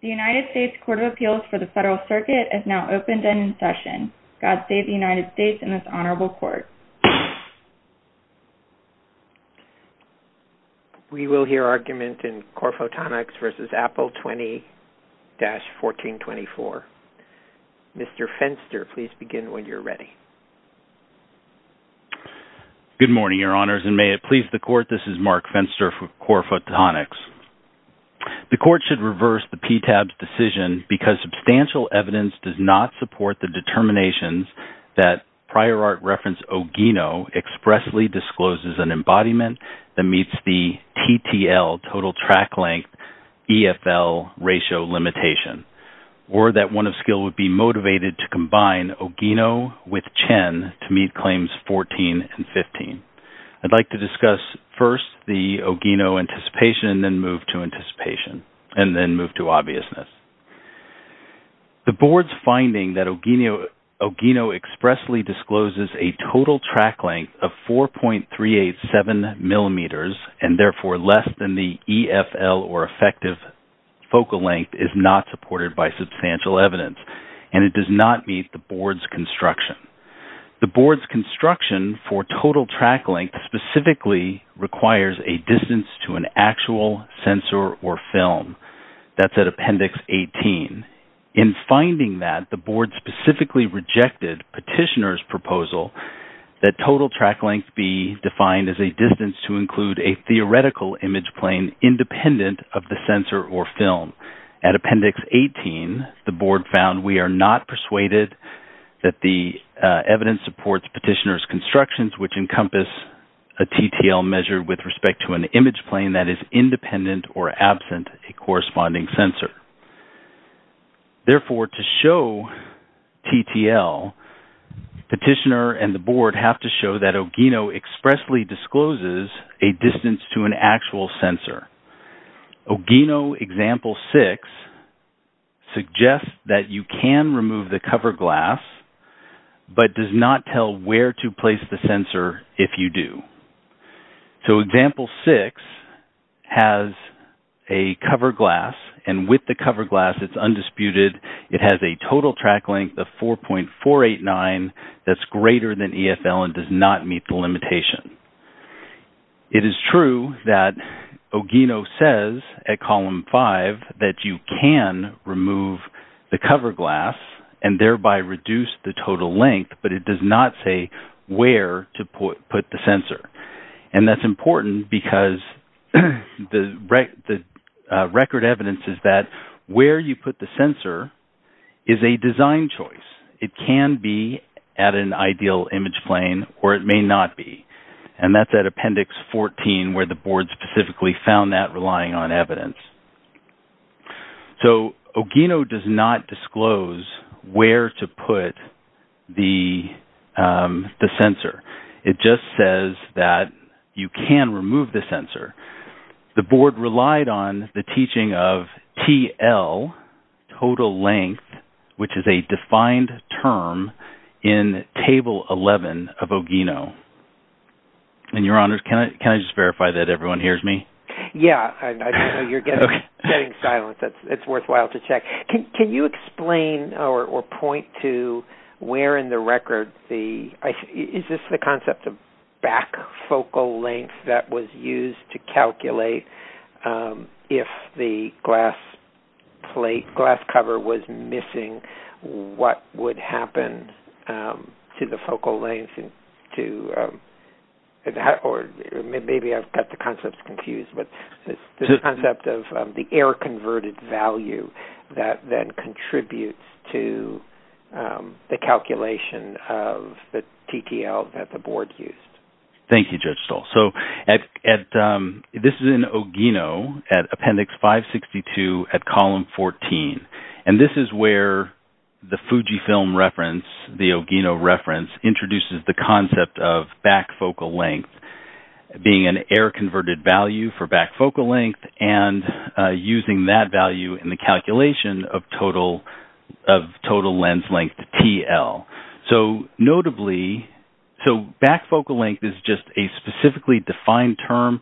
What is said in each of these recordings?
The United States Court of Appeals for the Federal Circuit is now open and in session. God save the United States and this Honorable Court. We will hear argument in Corephotonics v. Apple 20-1424. Mr. Fenster, please begin when you're ready. Good morning, Your Honors, and may it please the Court, this is Mark Fenster for Corephotonics. The Court should reverse the PTAB's decision because substantial evidence does not support the determinations that prior art reference Ogino expressly discloses an embodiment that meets the TTL, Total Track Length, EFL ratio limitation, or that one of skill would be motivated to combine Ogino with Chen to meet Claims 14 and 15. I'd like to discuss first the Ogino anticipation and then move to obviousness. The Board's finding that Ogino expressly discloses a Total Track Length of 4.387 mm and therefore less than the EFL or effective focal length is not supported by substantial evidence and it does not meet the Board's construction. The Board's construction for Total Track Length specifically requires a distance to an actual sensor or film. That's at Appendix 18. In finding that, the Board specifically rejected Petitioner's proposal that Total Track Length be defined as a distance to include a theoretical image plane independent of the sensor or film. At Appendix 18, the Board found we are not persuaded that the evidence supports Petitioner's constructions which encompass a TTL measure with respect to an image plane that is independent or absent a corresponding sensor. Therefore, to show TTL, Petitioner and the Board have to show that Ogino expressly discloses a distance to an actual sensor. Ogino Example 6 suggests that you can remove the cover glass but does not tell where to place the sensor if you do. So, Example 6 has a cover glass and with the cover glass, it's undisputed. It has a Total Track Length of 4.489 that's greater than EFL and does not meet the limitation. It is true that Ogino says at Column 5 that you can remove the cover glass and thereby reduce the total length, but it does not say where to put the sensor. And that's important because the record evidence is that where you put the sensor is a design choice. It can be at an ideal image plane or it may not be. And that's at Appendix 14 where the Board specifically found that relying on evidence. So, Ogino does not disclose where to put the sensor. It just says that you can remove the sensor. The Board relied on the teaching of TL, Total Length, which is a defined term in Table 11 of Ogino. And, Your Honors, can I just verify that everyone hears me? Yeah. I know you're getting silence. It's worthwhile to check. Can you explain or point to where in the record is this the concept of back focal length that was used to calculate if the glass plate, glass cover was missing, what would happen to the focal length? Or maybe I've got the concepts confused. The concept of the error converted value that then contributes to the calculation of the TTL that the Board used. Thank you, Judge Stoll. So, this is in Ogino at Appendix 562 at Column 14. And this is where the Fujifilm reference, the Ogino reference, introduces the concept of back focal length being an error converted value for back focal length and using that value in the calculation of Total Length TL. So, notably, back focal length is just a specifically defined term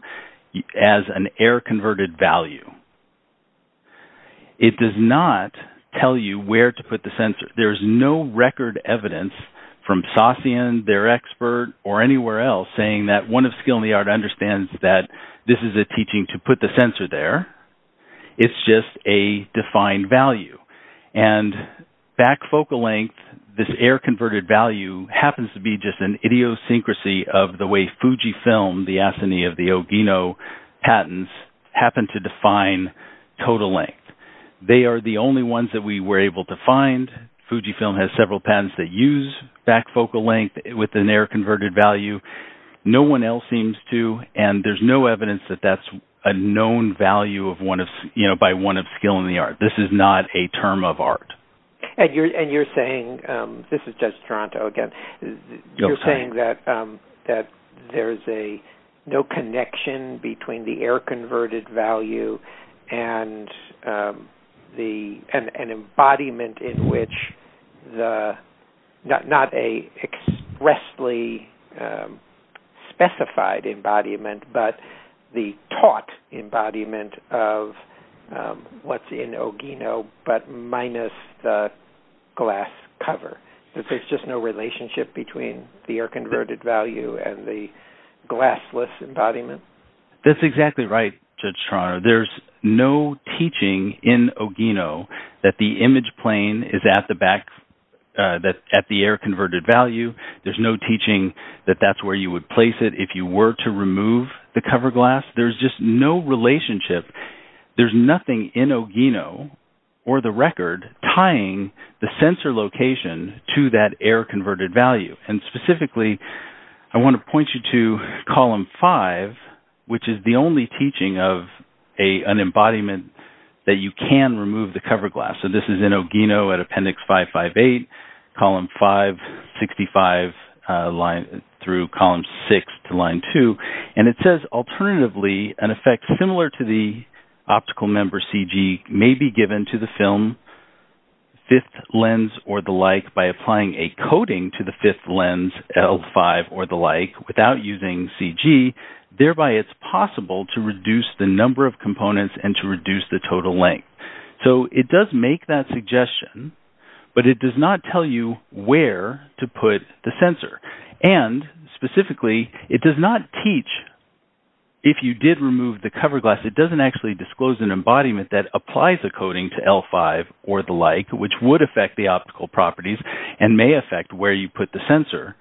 as an error converted value. It does not tell you where to put the sensor. There's no record evidence from Sasean, their expert, or anywhere else saying that one of skill in the art understands that this is a teaching to put the sensor there. It's just a defined value. And back focal length, this error converted value, happens to be just an idiosyncrasy of the way Fujifilm, the assignee of the Ogino patents, happen to define Total Length. They are the only ones that we were able to find. Fujifilm has several patents that use back focal length with an error converted value. No one else seems to. And there's no evidence that that's a known value by one of skill in the art. This is not a term of art. And you're saying, this is just Toronto again, you're saying that there's no connection between the error converted value and an embodiment in which, not an expressly specified embodiment, but the taught embodiment of what's in Ogino, but minus the glass cover. There's just no relationship between the error converted value and the glassless embodiment? That's exactly right, Judge Toronto. There's no teaching in Ogino that the image plane is at the error converted value. There's no teaching that that's where you would place it. If you were to remove the cover glass, there's just no relationship. There's nothing in Ogino or the record tying the sensor location to that error converted value. And specifically, I want to point you to Column 5, which is the only teaching of an embodiment that you can remove the cover glass. So, this is in Ogino at Appendix 558, Column 565 through Column 6 to Line 2. And it says, alternatively, an effect similar to the optical member CG may be given to the film, fifth lens or the like, by applying a coating to the fifth lens, L5 or the like, without using CG. Thereby, it's possible to reduce the number of components and to reduce the total length. So, it does make that suggestion, but it does not tell you where to put the sensor. And specifically, it does not teach, if you did remove the cover glass, it doesn't actually disclose an embodiment that applies a coating to L5 or the like, which would affect the optical properties and may affect where you put the sensor.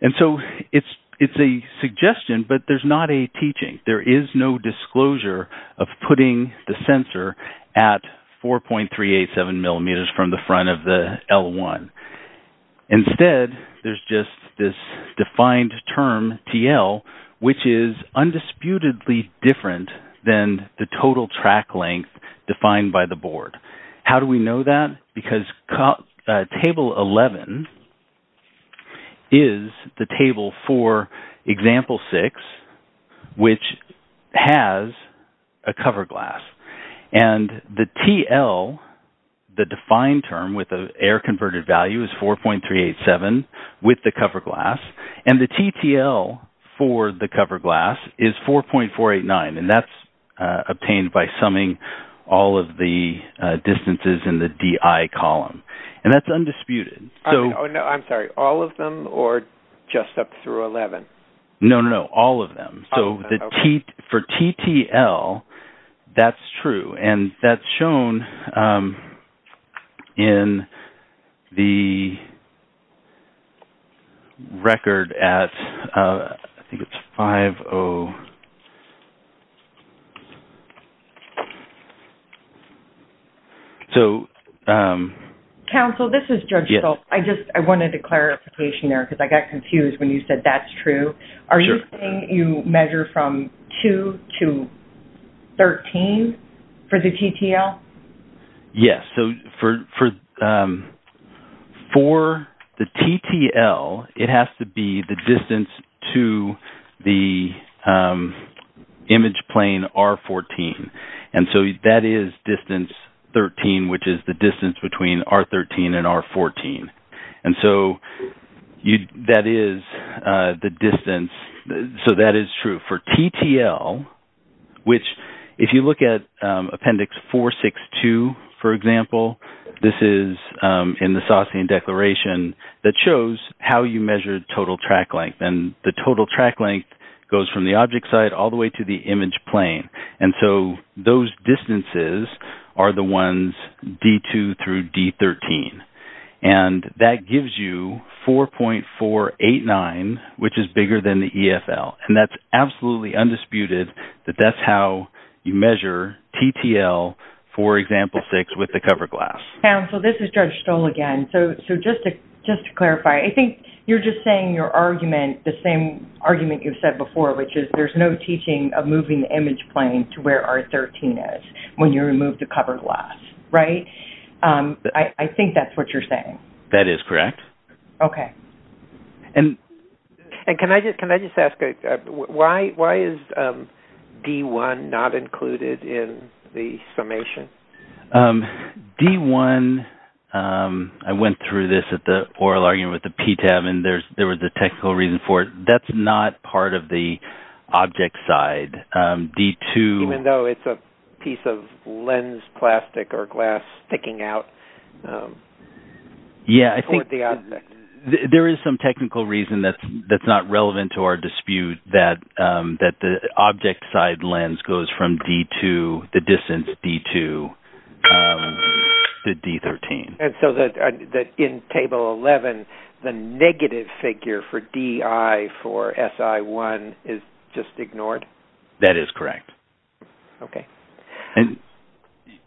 And so, it's a suggestion, but there's not a teaching. There is no disclosure of putting the sensor at 4.387 millimeters from the front of the L1. Instead, there's just this defined term TL, which is undisputedly different than the total track length defined by the board. How do we know that? Because table 11 is the table for example 6, which has a cover glass. And the TL, the defined term with the air converted value, is 4.387 with the cover glass. And the TTL for the cover glass is 4.489. And that's obtained by summing all of the distances in the DI column. And that's undisputed. I'm sorry, all of them or just up through 11? No, no, no, all of them. For TTL, that's true. And that's shown in the record at, I think it's 5.0. So- Counsel, this is Judge Stoltz. I just wanted a clarification there because I got confused when you said that's true. Are you saying you measure from 2 to 13 for the TTL? Yes. So for the TTL, it has to be the distance to the image plane R14. And so that is distance 13, which is the distance between R13 and R14. And so that is the distance. So that is true. For TTL, which if you look at Appendix 462, for example, this is in the Sossian Declaration that shows how you measure total track length. And the total track length goes from the object site all the way to the image plane. And so those distances are the ones D2 through D13. And that gives you 4.489, which is bigger than the EFL. And that's absolutely undisputed that that's how you measure TTL for Example 6 with the cover glass. Counsel, this is Judge Stoltz again. So just to clarify, I think you're just saying your argument, the same argument you've said before, which is there's no teaching of moving the image plane to where R13 is when you remove the cover glass, right? I think that's what you're saying. That is correct. Okay. And can I just ask, why is D1 not included in the summation? D1, I went through this at the oral argument with the PTAB, and there was a technical reason for it. That's not part of the object side. Even though it's a piece of lens plastic or glass sticking out toward the object. Yeah, I think there is some technical reason that's not relevant to our dispute, that the object side lens goes from D2, the distance D2, to D13. And so that in Table 11, the negative figure for DI for SI1 is just ignored? That is correct. Okay.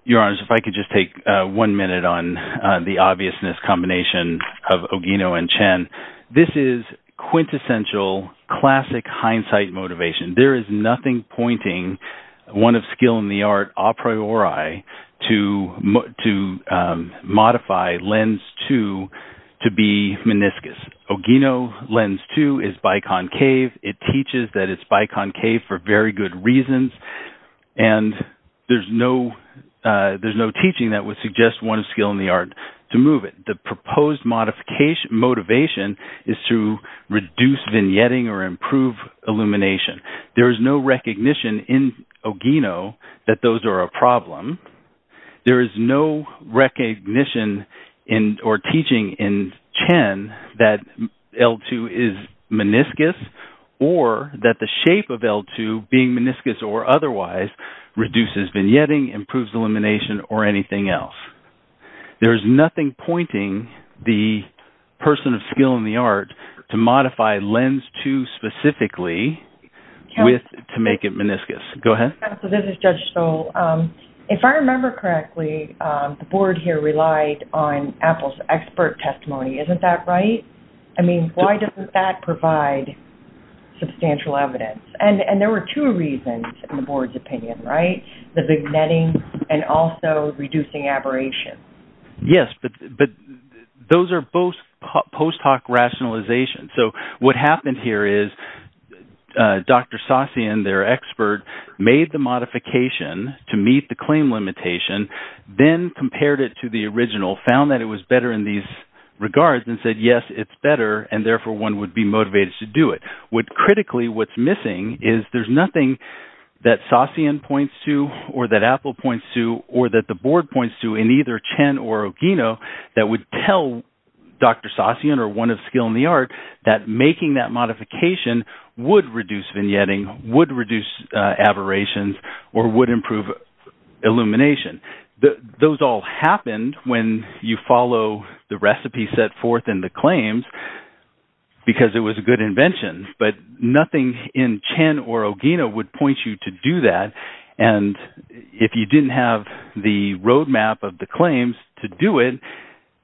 Your Honors, if I could just take one minute on the obviousness combination of Ogino and Chen. This is quintessential classic hindsight motivation. There is nothing pointing one of skill in the art a priori to modify lens 2 to be meniscus. Ogino lens 2 is biconcave. It teaches that it's biconcave for very good reasons, and there's no teaching that would suggest one of skill in the art to move it. The proposed motivation is to reduce vignetting or improve illumination. There is no recognition in Ogino that those are a problem. There is no recognition or teaching in Chen that L2 is meniscus, or that the shape of L2 being meniscus or otherwise reduces vignetting, improves illumination, or anything else. There is nothing pointing the person of skill in the art to modify lens 2 specifically to make it meniscus. Go ahead. This is Judge Stoll. If I remember correctly, the board here relied on Apple's expert testimony. Isn't that right? I mean, why doesn't that provide substantial evidence? And there were two reasons in the board's opinion, right? The vignetting and also reducing aberration. Yes, but those are both post hoc rationalizations. So what happened here is Dr. Sasian, their expert, made the modification to meet the claim limitation, then compared it to the original, found that it was better in these regards, and said, yes, it's better, and therefore one would be motivated to do it. Critically, what's missing is there's nothing that Sasian points to or that Apple points to or that the board points to in either Chen or Ogino that would tell Dr. Sasian or one of skill in the art that making that modification would reduce vignetting, would reduce aberrations, or would improve illumination. Those all happened when you follow the recipe set forth in the claims because it was a good invention, but nothing in Chen or Ogino would point you to do that. And if you didn't have the roadmap of the claims to do it,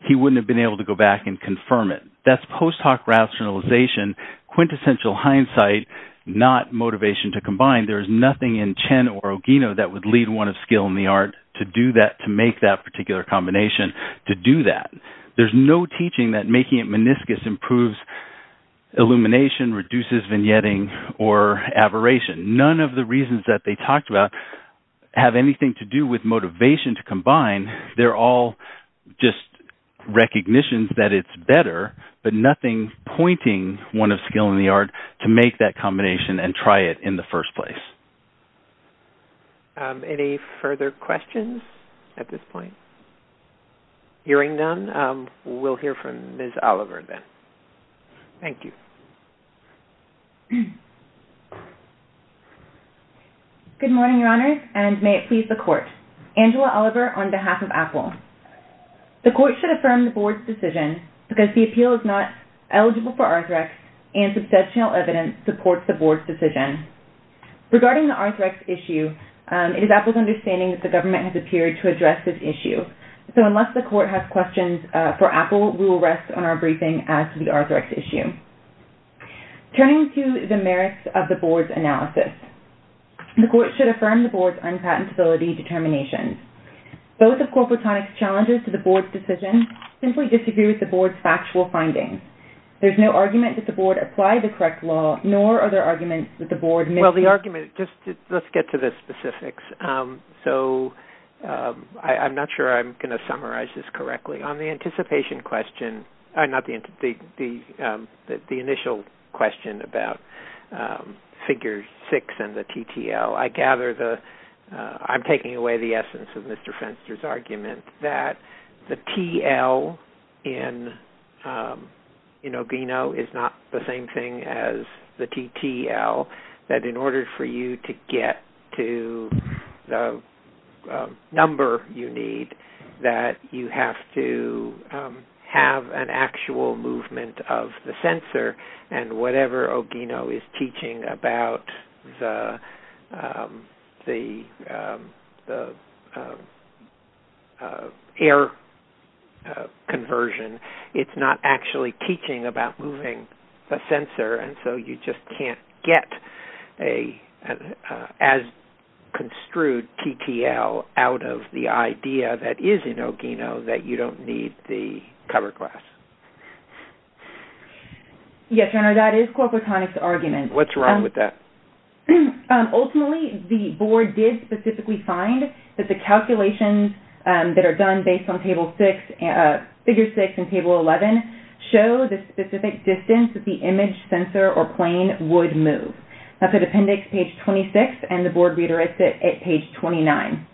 he wouldn't have been able to go back and confirm it. That's post hoc rationalization, quintessential hindsight, not motivation to combine. There's nothing in Chen or Ogino that would lead one of skill in the art to do that, to make that particular combination, to do that. There's no teaching that making it meniscus improves illumination, reduces vignetting, or aberration. None of the reasons that they talked about have anything to do with motivation to combine. They're all just recognitions that it's better, but nothing pointing one of skill in the art to make that combination and try it in the first place. Any further questions at this point? Hearing none, we'll hear from Ms. Oliver then. Thank you. Good morning, Your Honors, and may it please the Court. Angela Oliver on behalf of Apple. The Court should affirm the Board's decision because the appeal is not eligible for R3X and substantial evidence supports the Board's decision. Regarding the R3X issue, it is Apple's understanding that the government has appeared to address this issue. So unless the Court has questions for Apple, we will rest on our briefing as to the R3X issue. Turning to the merits of the Board's analysis, the Court should affirm the Board's unpatentability determination. Both of Corporatonic's challenges to the Board's decision simply disagree with the Board's factual findings. There's no argument that the Board applied the correct law, nor are there arguments that the Board missed- Well, the argument-let's get to the specifics. So I'm not sure I'm going to summarize this correctly. On the initial question about Figure 6 and the TTL, I'm taking away the essence of Mr. Fenster's argument that the TL in Ogino is not the same thing as the TTL, that in order for you to get to the number you need, that you have to have an actual movement of the sensor. And whatever Ogino is teaching about the air conversion, it's not actually teaching about moving the sensor. And so you just can't get as construed TTL out of the idea that is in Ogino that you don't need the cover glass. Yes, Your Honor, that is Corporatonic's argument. What's wrong with that? Ultimately, the Board did specifically find that the calculations that are done based on Figure 6 and Table 11 show the specific distance that the image sensor or plane would move. That's at Appendix Page 26 and the Board Reader is at Page 29.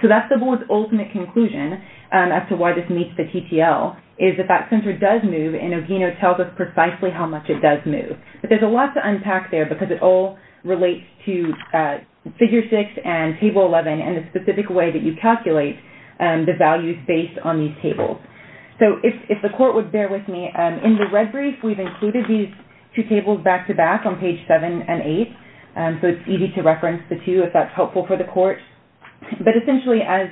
So that's the Board's ultimate conclusion as to why this meets the TTL, is that that sensor does move and Ogino tells us precisely how much it does move. But there's a lot to unpack there because it all relates to Figure 6 and Table 11 and the specific way that you calculate the values based on these tables. So if the Court would bear with me, in the red brief, we've included these two tables back-to-back on Page 7 and 8, so it's easy to reference the two if that's helpful for the Court. But essentially, as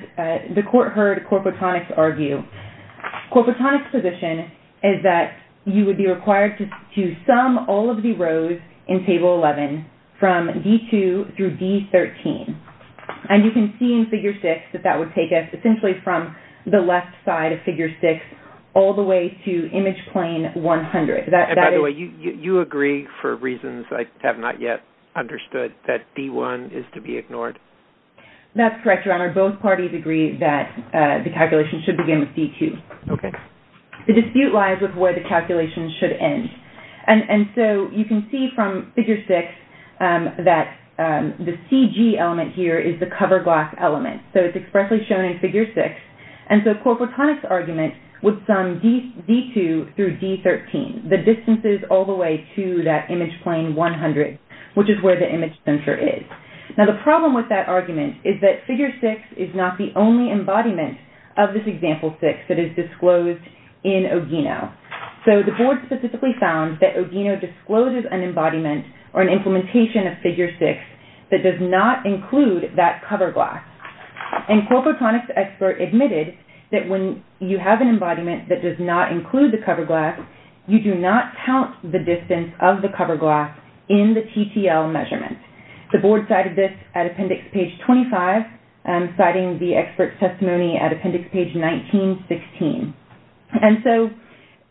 the Court heard Corporatonic argue, Corporatonic's position is that you would be required to sum all of the rows in Table 11 from D2 through D13. And you can see in Figure 6 that that would take us essentially from the left side of Figure 6 all the way to Image Plane 100. And by the way, you agree, for reasons I have not yet understood, that D1 is to be ignored? That's correct, Your Honor. Both parties agree that the calculation should begin with D2. Okay. The dispute lies with where the calculation should end. And so you can see from Figure 6 that the CG element here is the cover block element. So it's expressly shown in Figure 6. And so Corporatonic's argument would sum D2 through D13, the distances all the way to that Image Plane 100, which is where the image center is. Now, the problem with that argument is that Figure 6 is not the only embodiment of this Example 6 that is disclosed in Ogino. So the Board specifically found that Ogino discloses an embodiment or an implementation of Figure 6 that does not include that cover block. And Corporatonic's expert admitted that when you have an embodiment that does not include the cover block, you do not count the distance of the cover block in the TTL measurement. The Board cited this at Appendix Page 25, citing the expert's testimony at Appendix Page 1916. And so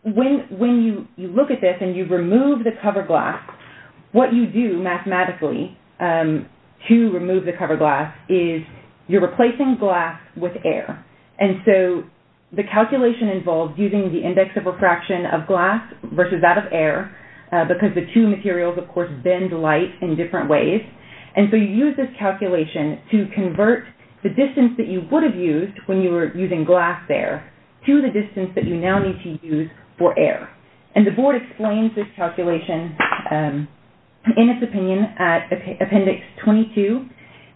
when you look at this and you remove the cover glass, what you do mathematically to remove the cover glass is you're replacing glass with air. And so the calculation involves using the index of refraction of glass versus that of air because the two materials, of course, bend light in different ways. And so you use this calculation to convert the distance that you would have used when you were using glass there to the distance that you now need to use for air. And the Board explains this calculation in its opinion at Appendix 22.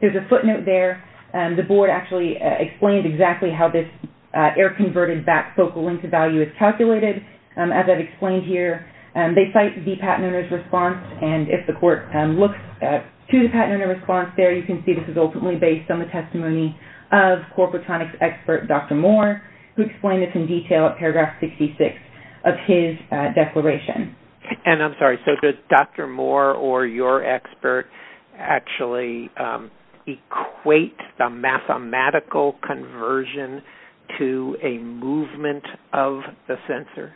There's a footnote there. The Board actually explained exactly how this air-converted back focal length of value is calculated. As I've explained here, they cite the patent owner's response. And if the court looks to the patent owner's response there, you can see this is ultimately based on the testimony of Corporatonic's expert, Dr. Moore, who explained this in detail at Paragraph 66 of his declaration. And I'm sorry, so does Dr. Moore or your expert actually equate the mathematical conversion to a movement of the sensor?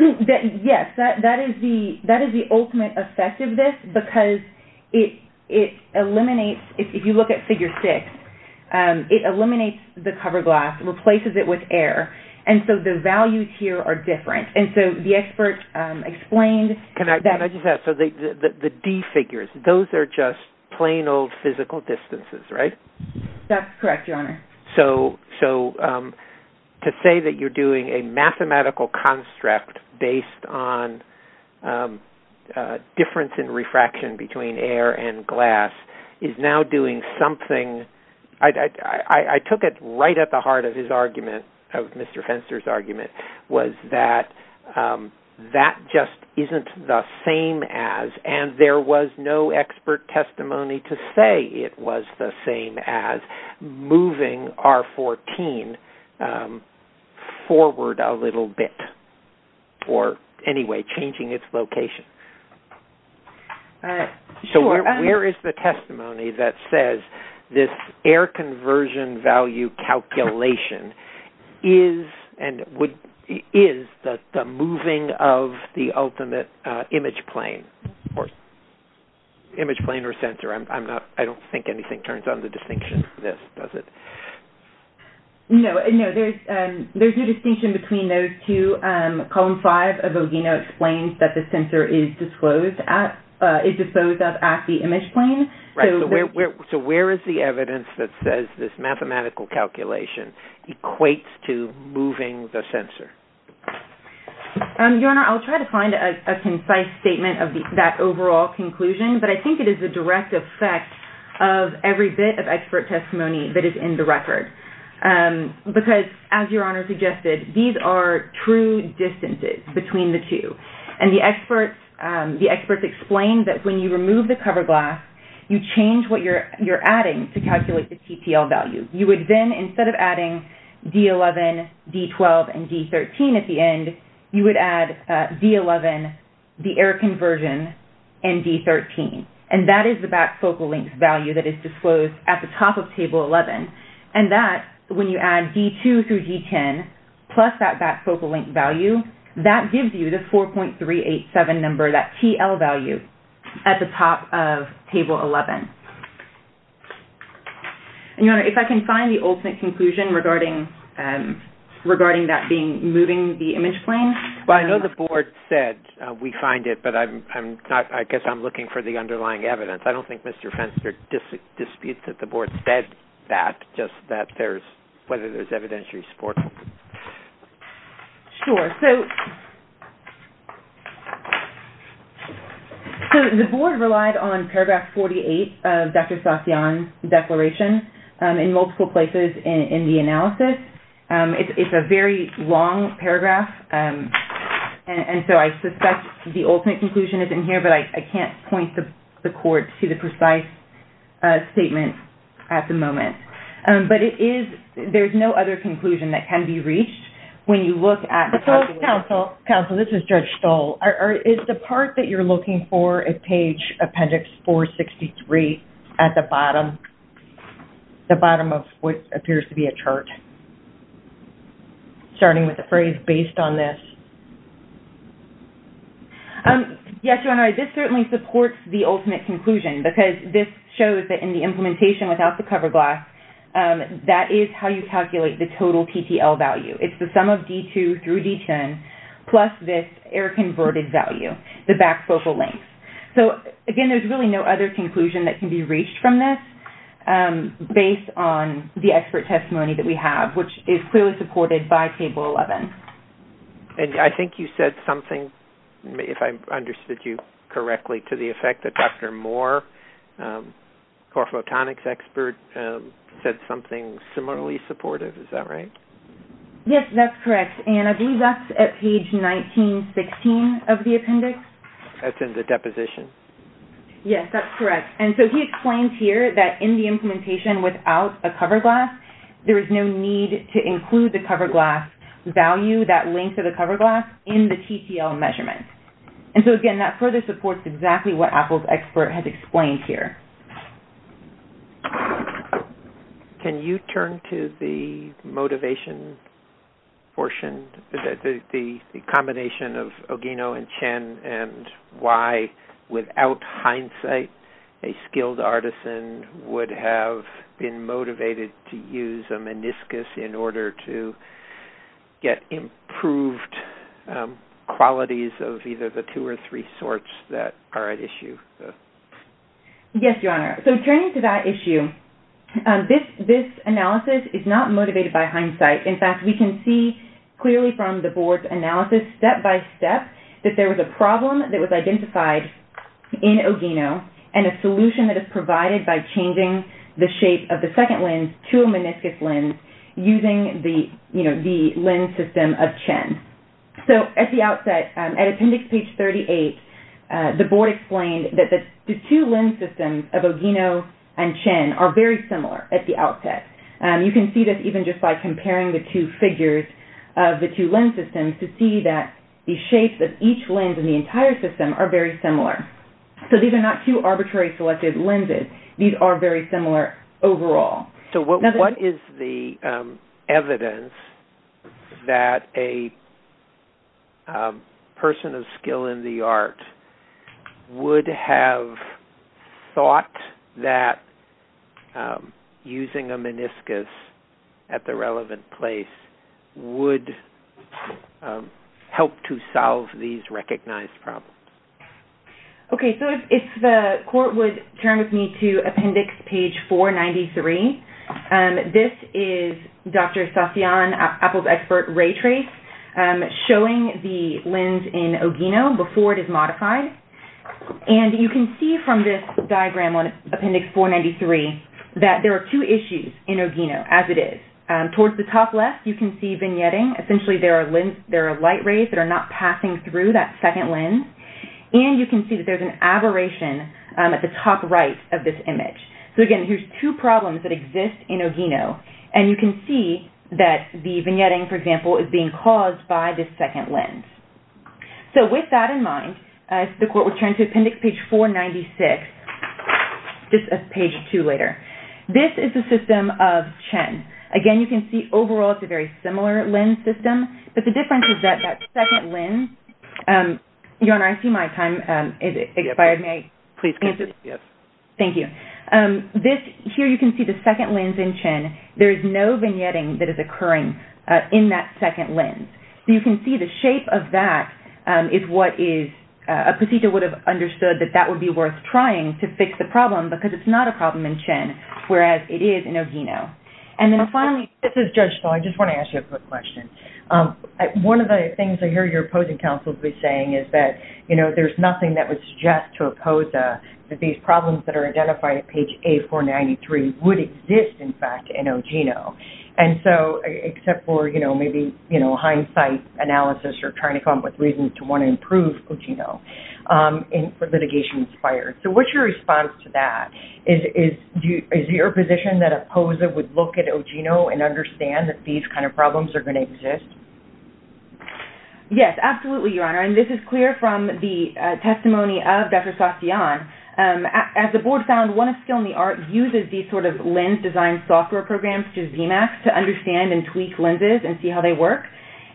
Yes. That is the ultimate effect of this because it eliminates, if you look at Figure 6, it eliminates the cover glass and replaces it with air. And so the values here are different. And so the expert explained that... Can I just add? So the D figures, those are just plain old physical distances, right? So to say that you're doing a mathematical construct based on difference in refraction between air and glass is now doing something... I took it right at the heart of his argument, of Mr. Fenster's argument, was that that just isn't the same as... And there was no expert testimony to say it was the same as moving R-14 forward a little bit or, anyway, changing its location. All right. Sure. So where is the testimony that says this air conversion value calculation is the moving of the ultimate image plane or sensor? I don't think anything turns on the distinction for this, does it? No. There's no distinction between those two. Column 5 of OGENA explains that the sensor is disposed of at the image plane. Right. So where is the evidence that says this mathematical calculation equates to moving the sensor? Your Honor, I'll try to find a concise statement of that overall conclusion, but I think it is the direct effect of every bit of expert testimony that is in the record. Because, as Your Honor suggested, these are true distances between the two. And the experts explained that when you remove the cover glass, you change what you're adding to calculate the TTL value. You would then, instead of adding D11, D12, and D13 at the end, you would add D11, the air conversion, and D13. And that is the back focal length value that is disclosed at the top of Table 11. And that, when you add D2 through D10, plus that back focal length value, that gives you the 4.387 number, that TL value, at the top of Table 11. And, Your Honor, if I can find the ultimate conclusion regarding that being moving the image plane. Well, I know the Board said we find it, but I guess I'm looking for the underlying evidence. I don't think Mr. Fenster disputes that the Board said that, just that there's whether there's evidentiary support. Sure. So, the Board relied on Paragraph 48 of Dr. Satyan's declaration in multiple places in the analysis. It's a very long paragraph, and so I suspect the ultimate conclusion is in here, but I can't point the court to the precise statement at the moment. But it is, there's no other conclusion that can be reached when you look at the top of Table 11. Counsel, this is Judge Stoll. Is the part that you're looking for at Page Appendix 463 at the bottom, the bottom of what appears to be a chart, starting with the phrase, based on this? Yes, Your Honor, this certainly supports the ultimate conclusion, because this shows that in the implementation without the cover glass, that is how you calculate the total TTL value. It's the sum of D2 through D10, plus this error-converted value, the back focal length. So, again, there's really no other conclusion that can be reached from this, based on the expert testimony that we have, which is clearly supported by Table 11. And I think you said something, if I understood you correctly, to the effect that Dr. Moore, core photonics expert, said something similarly supportive. Is that right? Yes, that's correct. And I believe that's at Page 1916 of the appendix. That's in the deposition. Yes, that's correct. And so he explains here that in the implementation without a cover glass, there is no need to include the cover glass value, that length of the cover glass, in the TTL measurement. And so, again, that further supports exactly what Apple's expert has explained here. Can you turn to the motivation portion, the combination of Ogino and Chen, and why, without hindsight, a skilled artisan would have been motivated to use a meniscus in order to get improved qualities of either the two or three sorts that are at issue? Yes, Your Honor. So turning to that issue, this analysis is not motivated by hindsight. In fact, we can see clearly from the Board's analysis, step by step, that there was a problem that was identified in Ogino and a solution that is provided by changing the shape of the second lens to a meniscus lens using the lens system of Chen. So at the outset, at Appendix Page 38, the Board explained that the two lens systems of Ogino and Chen are very similar at the outset. You can see this even just by comparing the two figures of the two lens systems to see that the shapes of each lens in the entire system are very similar. So these are not two arbitrary selected lenses. These are very similar overall. So what is the evidence that a person of skill in the art would have thought that using a meniscus at the relevant place would help to solve these recognized problems? Okay, so if the Court would turn with me to Appendix Page 493. This is Dr. Sasyan, Apple's expert ray trace, showing the lens in Ogino before it is modified. And you can see from this diagram on Appendix 493 that there are two issues in Ogino as it is. Towards the top left, you can see vignetting. Essentially, there are light rays that are not passing through that second lens. And you can see that there's an aberration at the top right of this image. So again, here's two problems that exist in Ogino. And you can see that the vignetting, for example, is being caused by this second lens. So with that in mind, if the Court would turn to Appendix Page 496, this is Page 2 later. This is the system of Chen. Again, you can see overall it's a very similar lens system. But the difference is that that second lens – Your Honor, I see my time has expired. May I please continue? Yes. Thank you. This – here you can see the second lens in Chen. There is no vignetting that is occurring in that second lens. So you can see the shape of that is what is – a patient would have understood that that would be worth trying to fix the problem because it's not a problem in Chen, whereas it is in Ogino. And then finally, this is Judge Stahl. I just want to ask you a quick question. One of the things I hear your opposing counsel be saying is that, you know, there's nothing that would suggest to Opoza that these problems that are identified at Page A493 would exist, in fact, in Ogino. And so – except for, you know, maybe, you know, hindsight analysis or trying to come up with reasons to want to improve Ogino for litigation expired. So what's your response to that? Is your position that Opoza would look at Ogino and understand that these kind of problems are going to exist? Yes, absolutely, Your Honor. And this is clear from the testimony of Dr. Satyan. As the Board found, one of Skill in the Art uses these sort of lens design software programs through ZMAC to understand and tweak lenses and see how they work.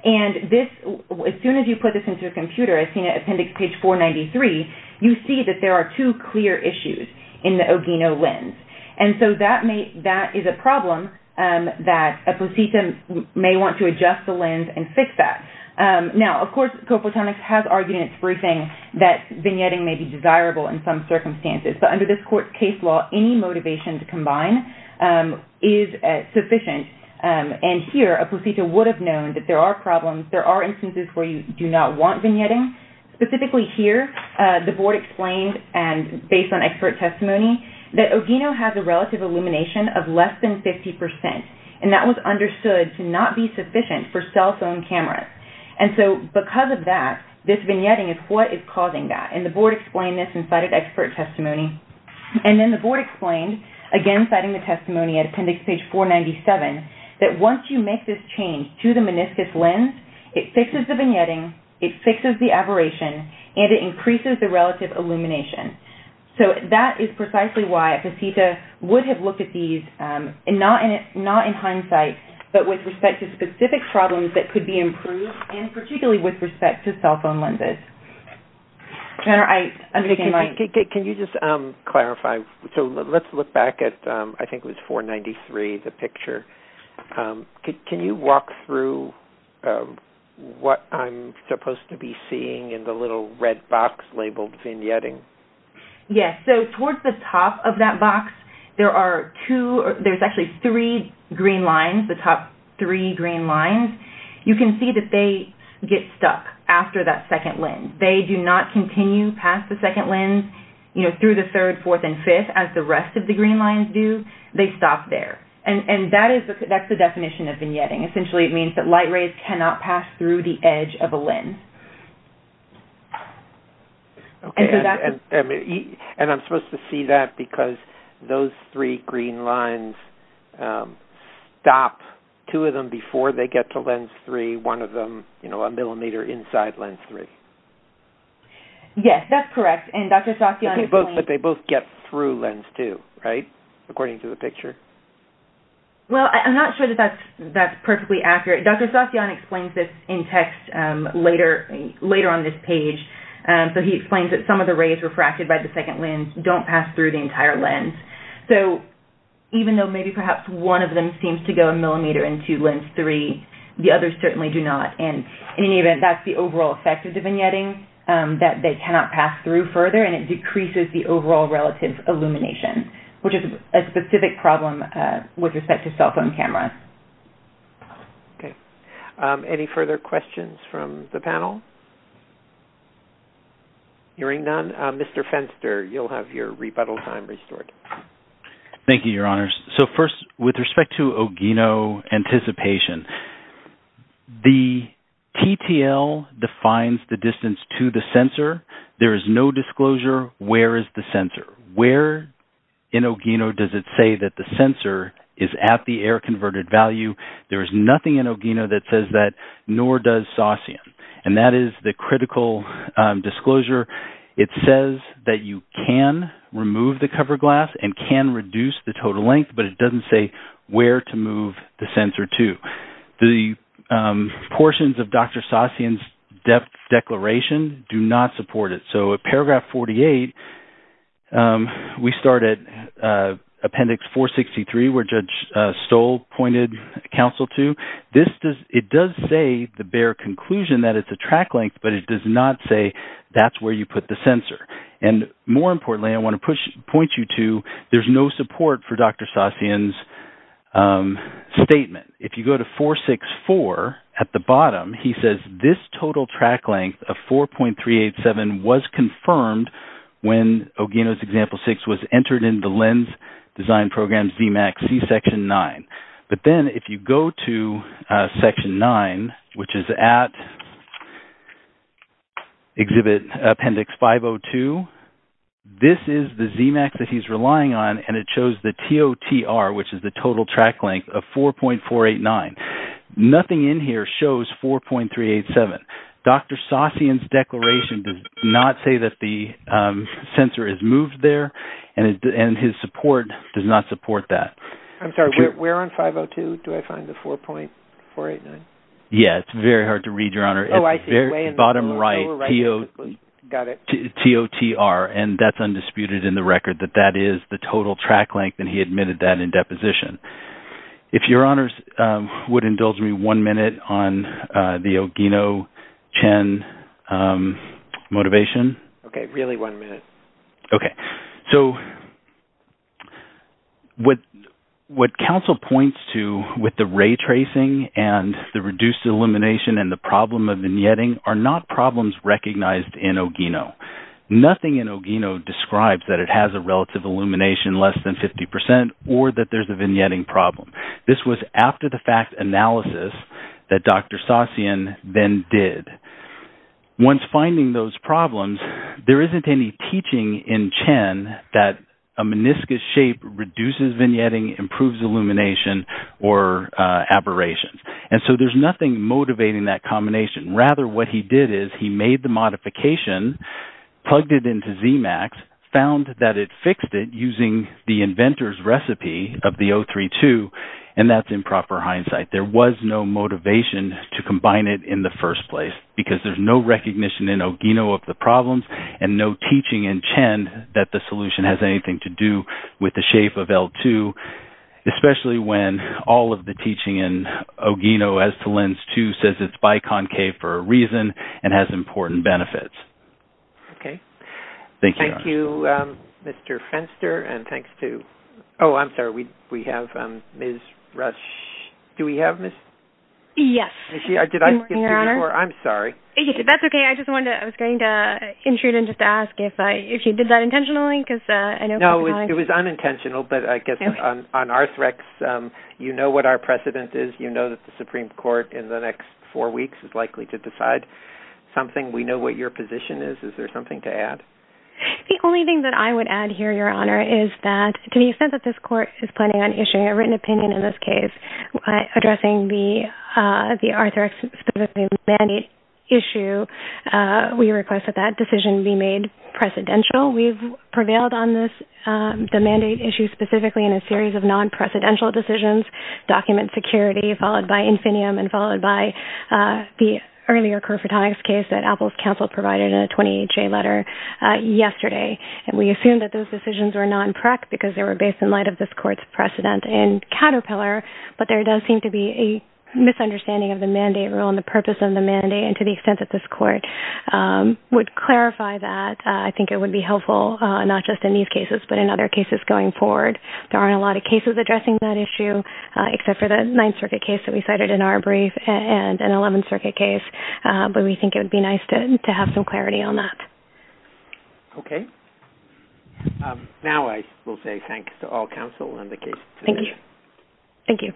And this – as soon as you put this into a computer, as seen at Appendix Page 493, you see that there are two clear issues in the Ogino lens. And so that is a problem that a placenta may want to adjust the lens and fix that. Now, of course, Coplatonics has argued in its briefing that vignetting may be desirable in some circumstances. But under this court's case law, any motivation to combine is sufficient. And here, a placenta would have known that there are problems, there are instances where you do not want vignetting. Specifically here, the Board explained, and based on expert testimony, that Ogino has a relative illumination of less than 50%, and that was understood to not be sufficient for cell phone cameras. And so because of that, this vignetting is what is causing that. And the Board explained this and cited expert testimony. And then the Board explained, again citing the testimony at Appendix Page 497, that once you make this change to the meniscus lens, it fixes the vignetting, it fixes the aberration, and it increases the relative illumination. So that is precisely why a placenta would have looked at these, and not in hindsight, but with respect to specific problems that could be improved, and particularly with respect to cell phone lenses. Can you just clarify? So let's look back at, I think it was 493, the picture. Can you walk through what I'm supposed to be seeing in the little red box labeled vignetting? Yes. So towards the top of that box, there's actually three green lines, the top three green lines. You can see that they get stuck after that second lens. They do not continue past the second lens through the third, fourth, and fifth, as the rest of the green lines do. They stop there. And that's the definition of vignetting. Essentially, it means that light rays cannot pass through the edge of a lens. And I'm supposed to see that because those three green lines stop, two of them before they get to lens three, one of them a millimeter inside lens three. Yes, that's correct. But they both get through lens two, right, according to the picture? Well, I'm not sure that that's perfectly accurate. Dr. Satyan explains this in text later on this page. So he explains that some of the rays refracted by the second lens don't pass through the entire lens. So even though maybe perhaps one of them seems to go a millimeter into lens three, the others certainly do not. And in any event, that's the overall effect of the vignetting, that they cannot pass through further, and it decreases the overall relative illumination, which is a specific problem with respect to cell phone cameras. Okay. Any further questions from the panel? Hearing none, Mr. Fenster, you'll have your rebuttal time restored. Thank you, Your Honors. So first, with respect to Ogino anticipation, the TTL defines the distance to the sensor. There is no disclosure where is the sensor. Where in Ogino does it say that the sensor is at the air converted value? There is nothing in Ogino that says that, nor does Satyan. And that is the critical disclosure. It says that you can remove the cover glass and can reduce the total length, but it doesn't say where to move the sensor to. The portions of Dr. Satyan's declaration do not support it. So at paragraph 48, we start at appendix 463, where Judge Stoll pointed counsel to. It does say the bare conclusion that it's a track length, but it does not say that's where you put the sensor. And more importantly, I want to point you to, there's no support for Dr. Satyan's statement. If you go to 464 at the bottom, he says this total track length of 4.387 was confirmed when Ogino's example 6 was entered into the LENS Design Program's ZMAX C section 9. But then if you go to section 9, which is at exhibit appendix 502, this is the ZMAX that he's relying on, and it shows the TOTR, which is the total track length, of 4.489. Nothing in here shows 4.387. Dr. Satyan's declaration does not say that the sensor is moved there, and his support does not support that. I'm sorry, where on 502 do I find the 4.489? Yeah, it's very hard to read, Your Honor. Oh, I see. Bottom right, TOTR, and that's undisputed in the record that that is the total track length, and he admitted that in deposition. If Your Honors would indulge me one minute on the Ogino-Chen motivation. Okay, really one minute. Okay. So what counsel points to with the ray tracing and the reduced illumination and the problem of vignetting are not problems recognized in Ogino. Nothing in Ogino describes that it has a relative illumination less than 50% or that there's a vignetting problem. This was after the fact analysis that Dr. Satyan then did. Once finding those problems, there isn't any teaching in Chen that a meniscus shape reduces vignetting, improves illumination, or aberrations. And so there's nothing motivating that combination. Rather, what he did is he made the modification, plugged it into ZMAX, found that it fixed it using the inventor's recipe of the O32, and that's in proper hindsight. There was no motivation to combine it in the first place because there's no recognition in Ogino of the problems and no teaching in Chen that the solution has anything to do with the shape of L2, especially when all of the teaching in Ogino as to lens 2 says it's biconcave for a reason and has important benefits. Okay. Thank you. Thank you, Mr. Fenster. And thanks to – oh, I'm sorry. We have Ms. Rush. Do we have Ms. Rush? Yes. Good morning, Your Honor. I'm sorry. That's okay. I was going to intrude and just ask if you did that intentionally because I know – No, it was unintentional. But I guess on Arthrex, you know what our precedent is. You know that the Supreme Court in the next four weeks is likely to decide something. We know what your position is. Is there something to add? The only thing that I would add here, Your Honor, is that to the extent that this Court is planning on issuing a written opinion in this case, addressing the Arthrex specific mandate issue, we request that that decision be made precedential. We've prevailed on the mandate issue specifically in a series of non-precedential decisions, document security, followed by Infinium, and followed by the earlier Kerfritonics case that Apple's counsel provided in a 28-J letter yesterday. And we assume that those decisions were non-prec because they were based in light of this Court's precedent in Caterpillar, but there does seem to be a misunderstanding of the mandate rule and the purpose of the mandate, and to the extent that this Court would clarify that, I think it would be helpful not just in these cases, but in other cases going forward. There aren't a lot of cases addressing that issue, except for the Ninth Circuit case that we cited in our brief and an Eleventh Circuit case, but we think it would be nice to have some clarity on that. Okay. Now I will say thanks to all counsel on the case today. Thank you.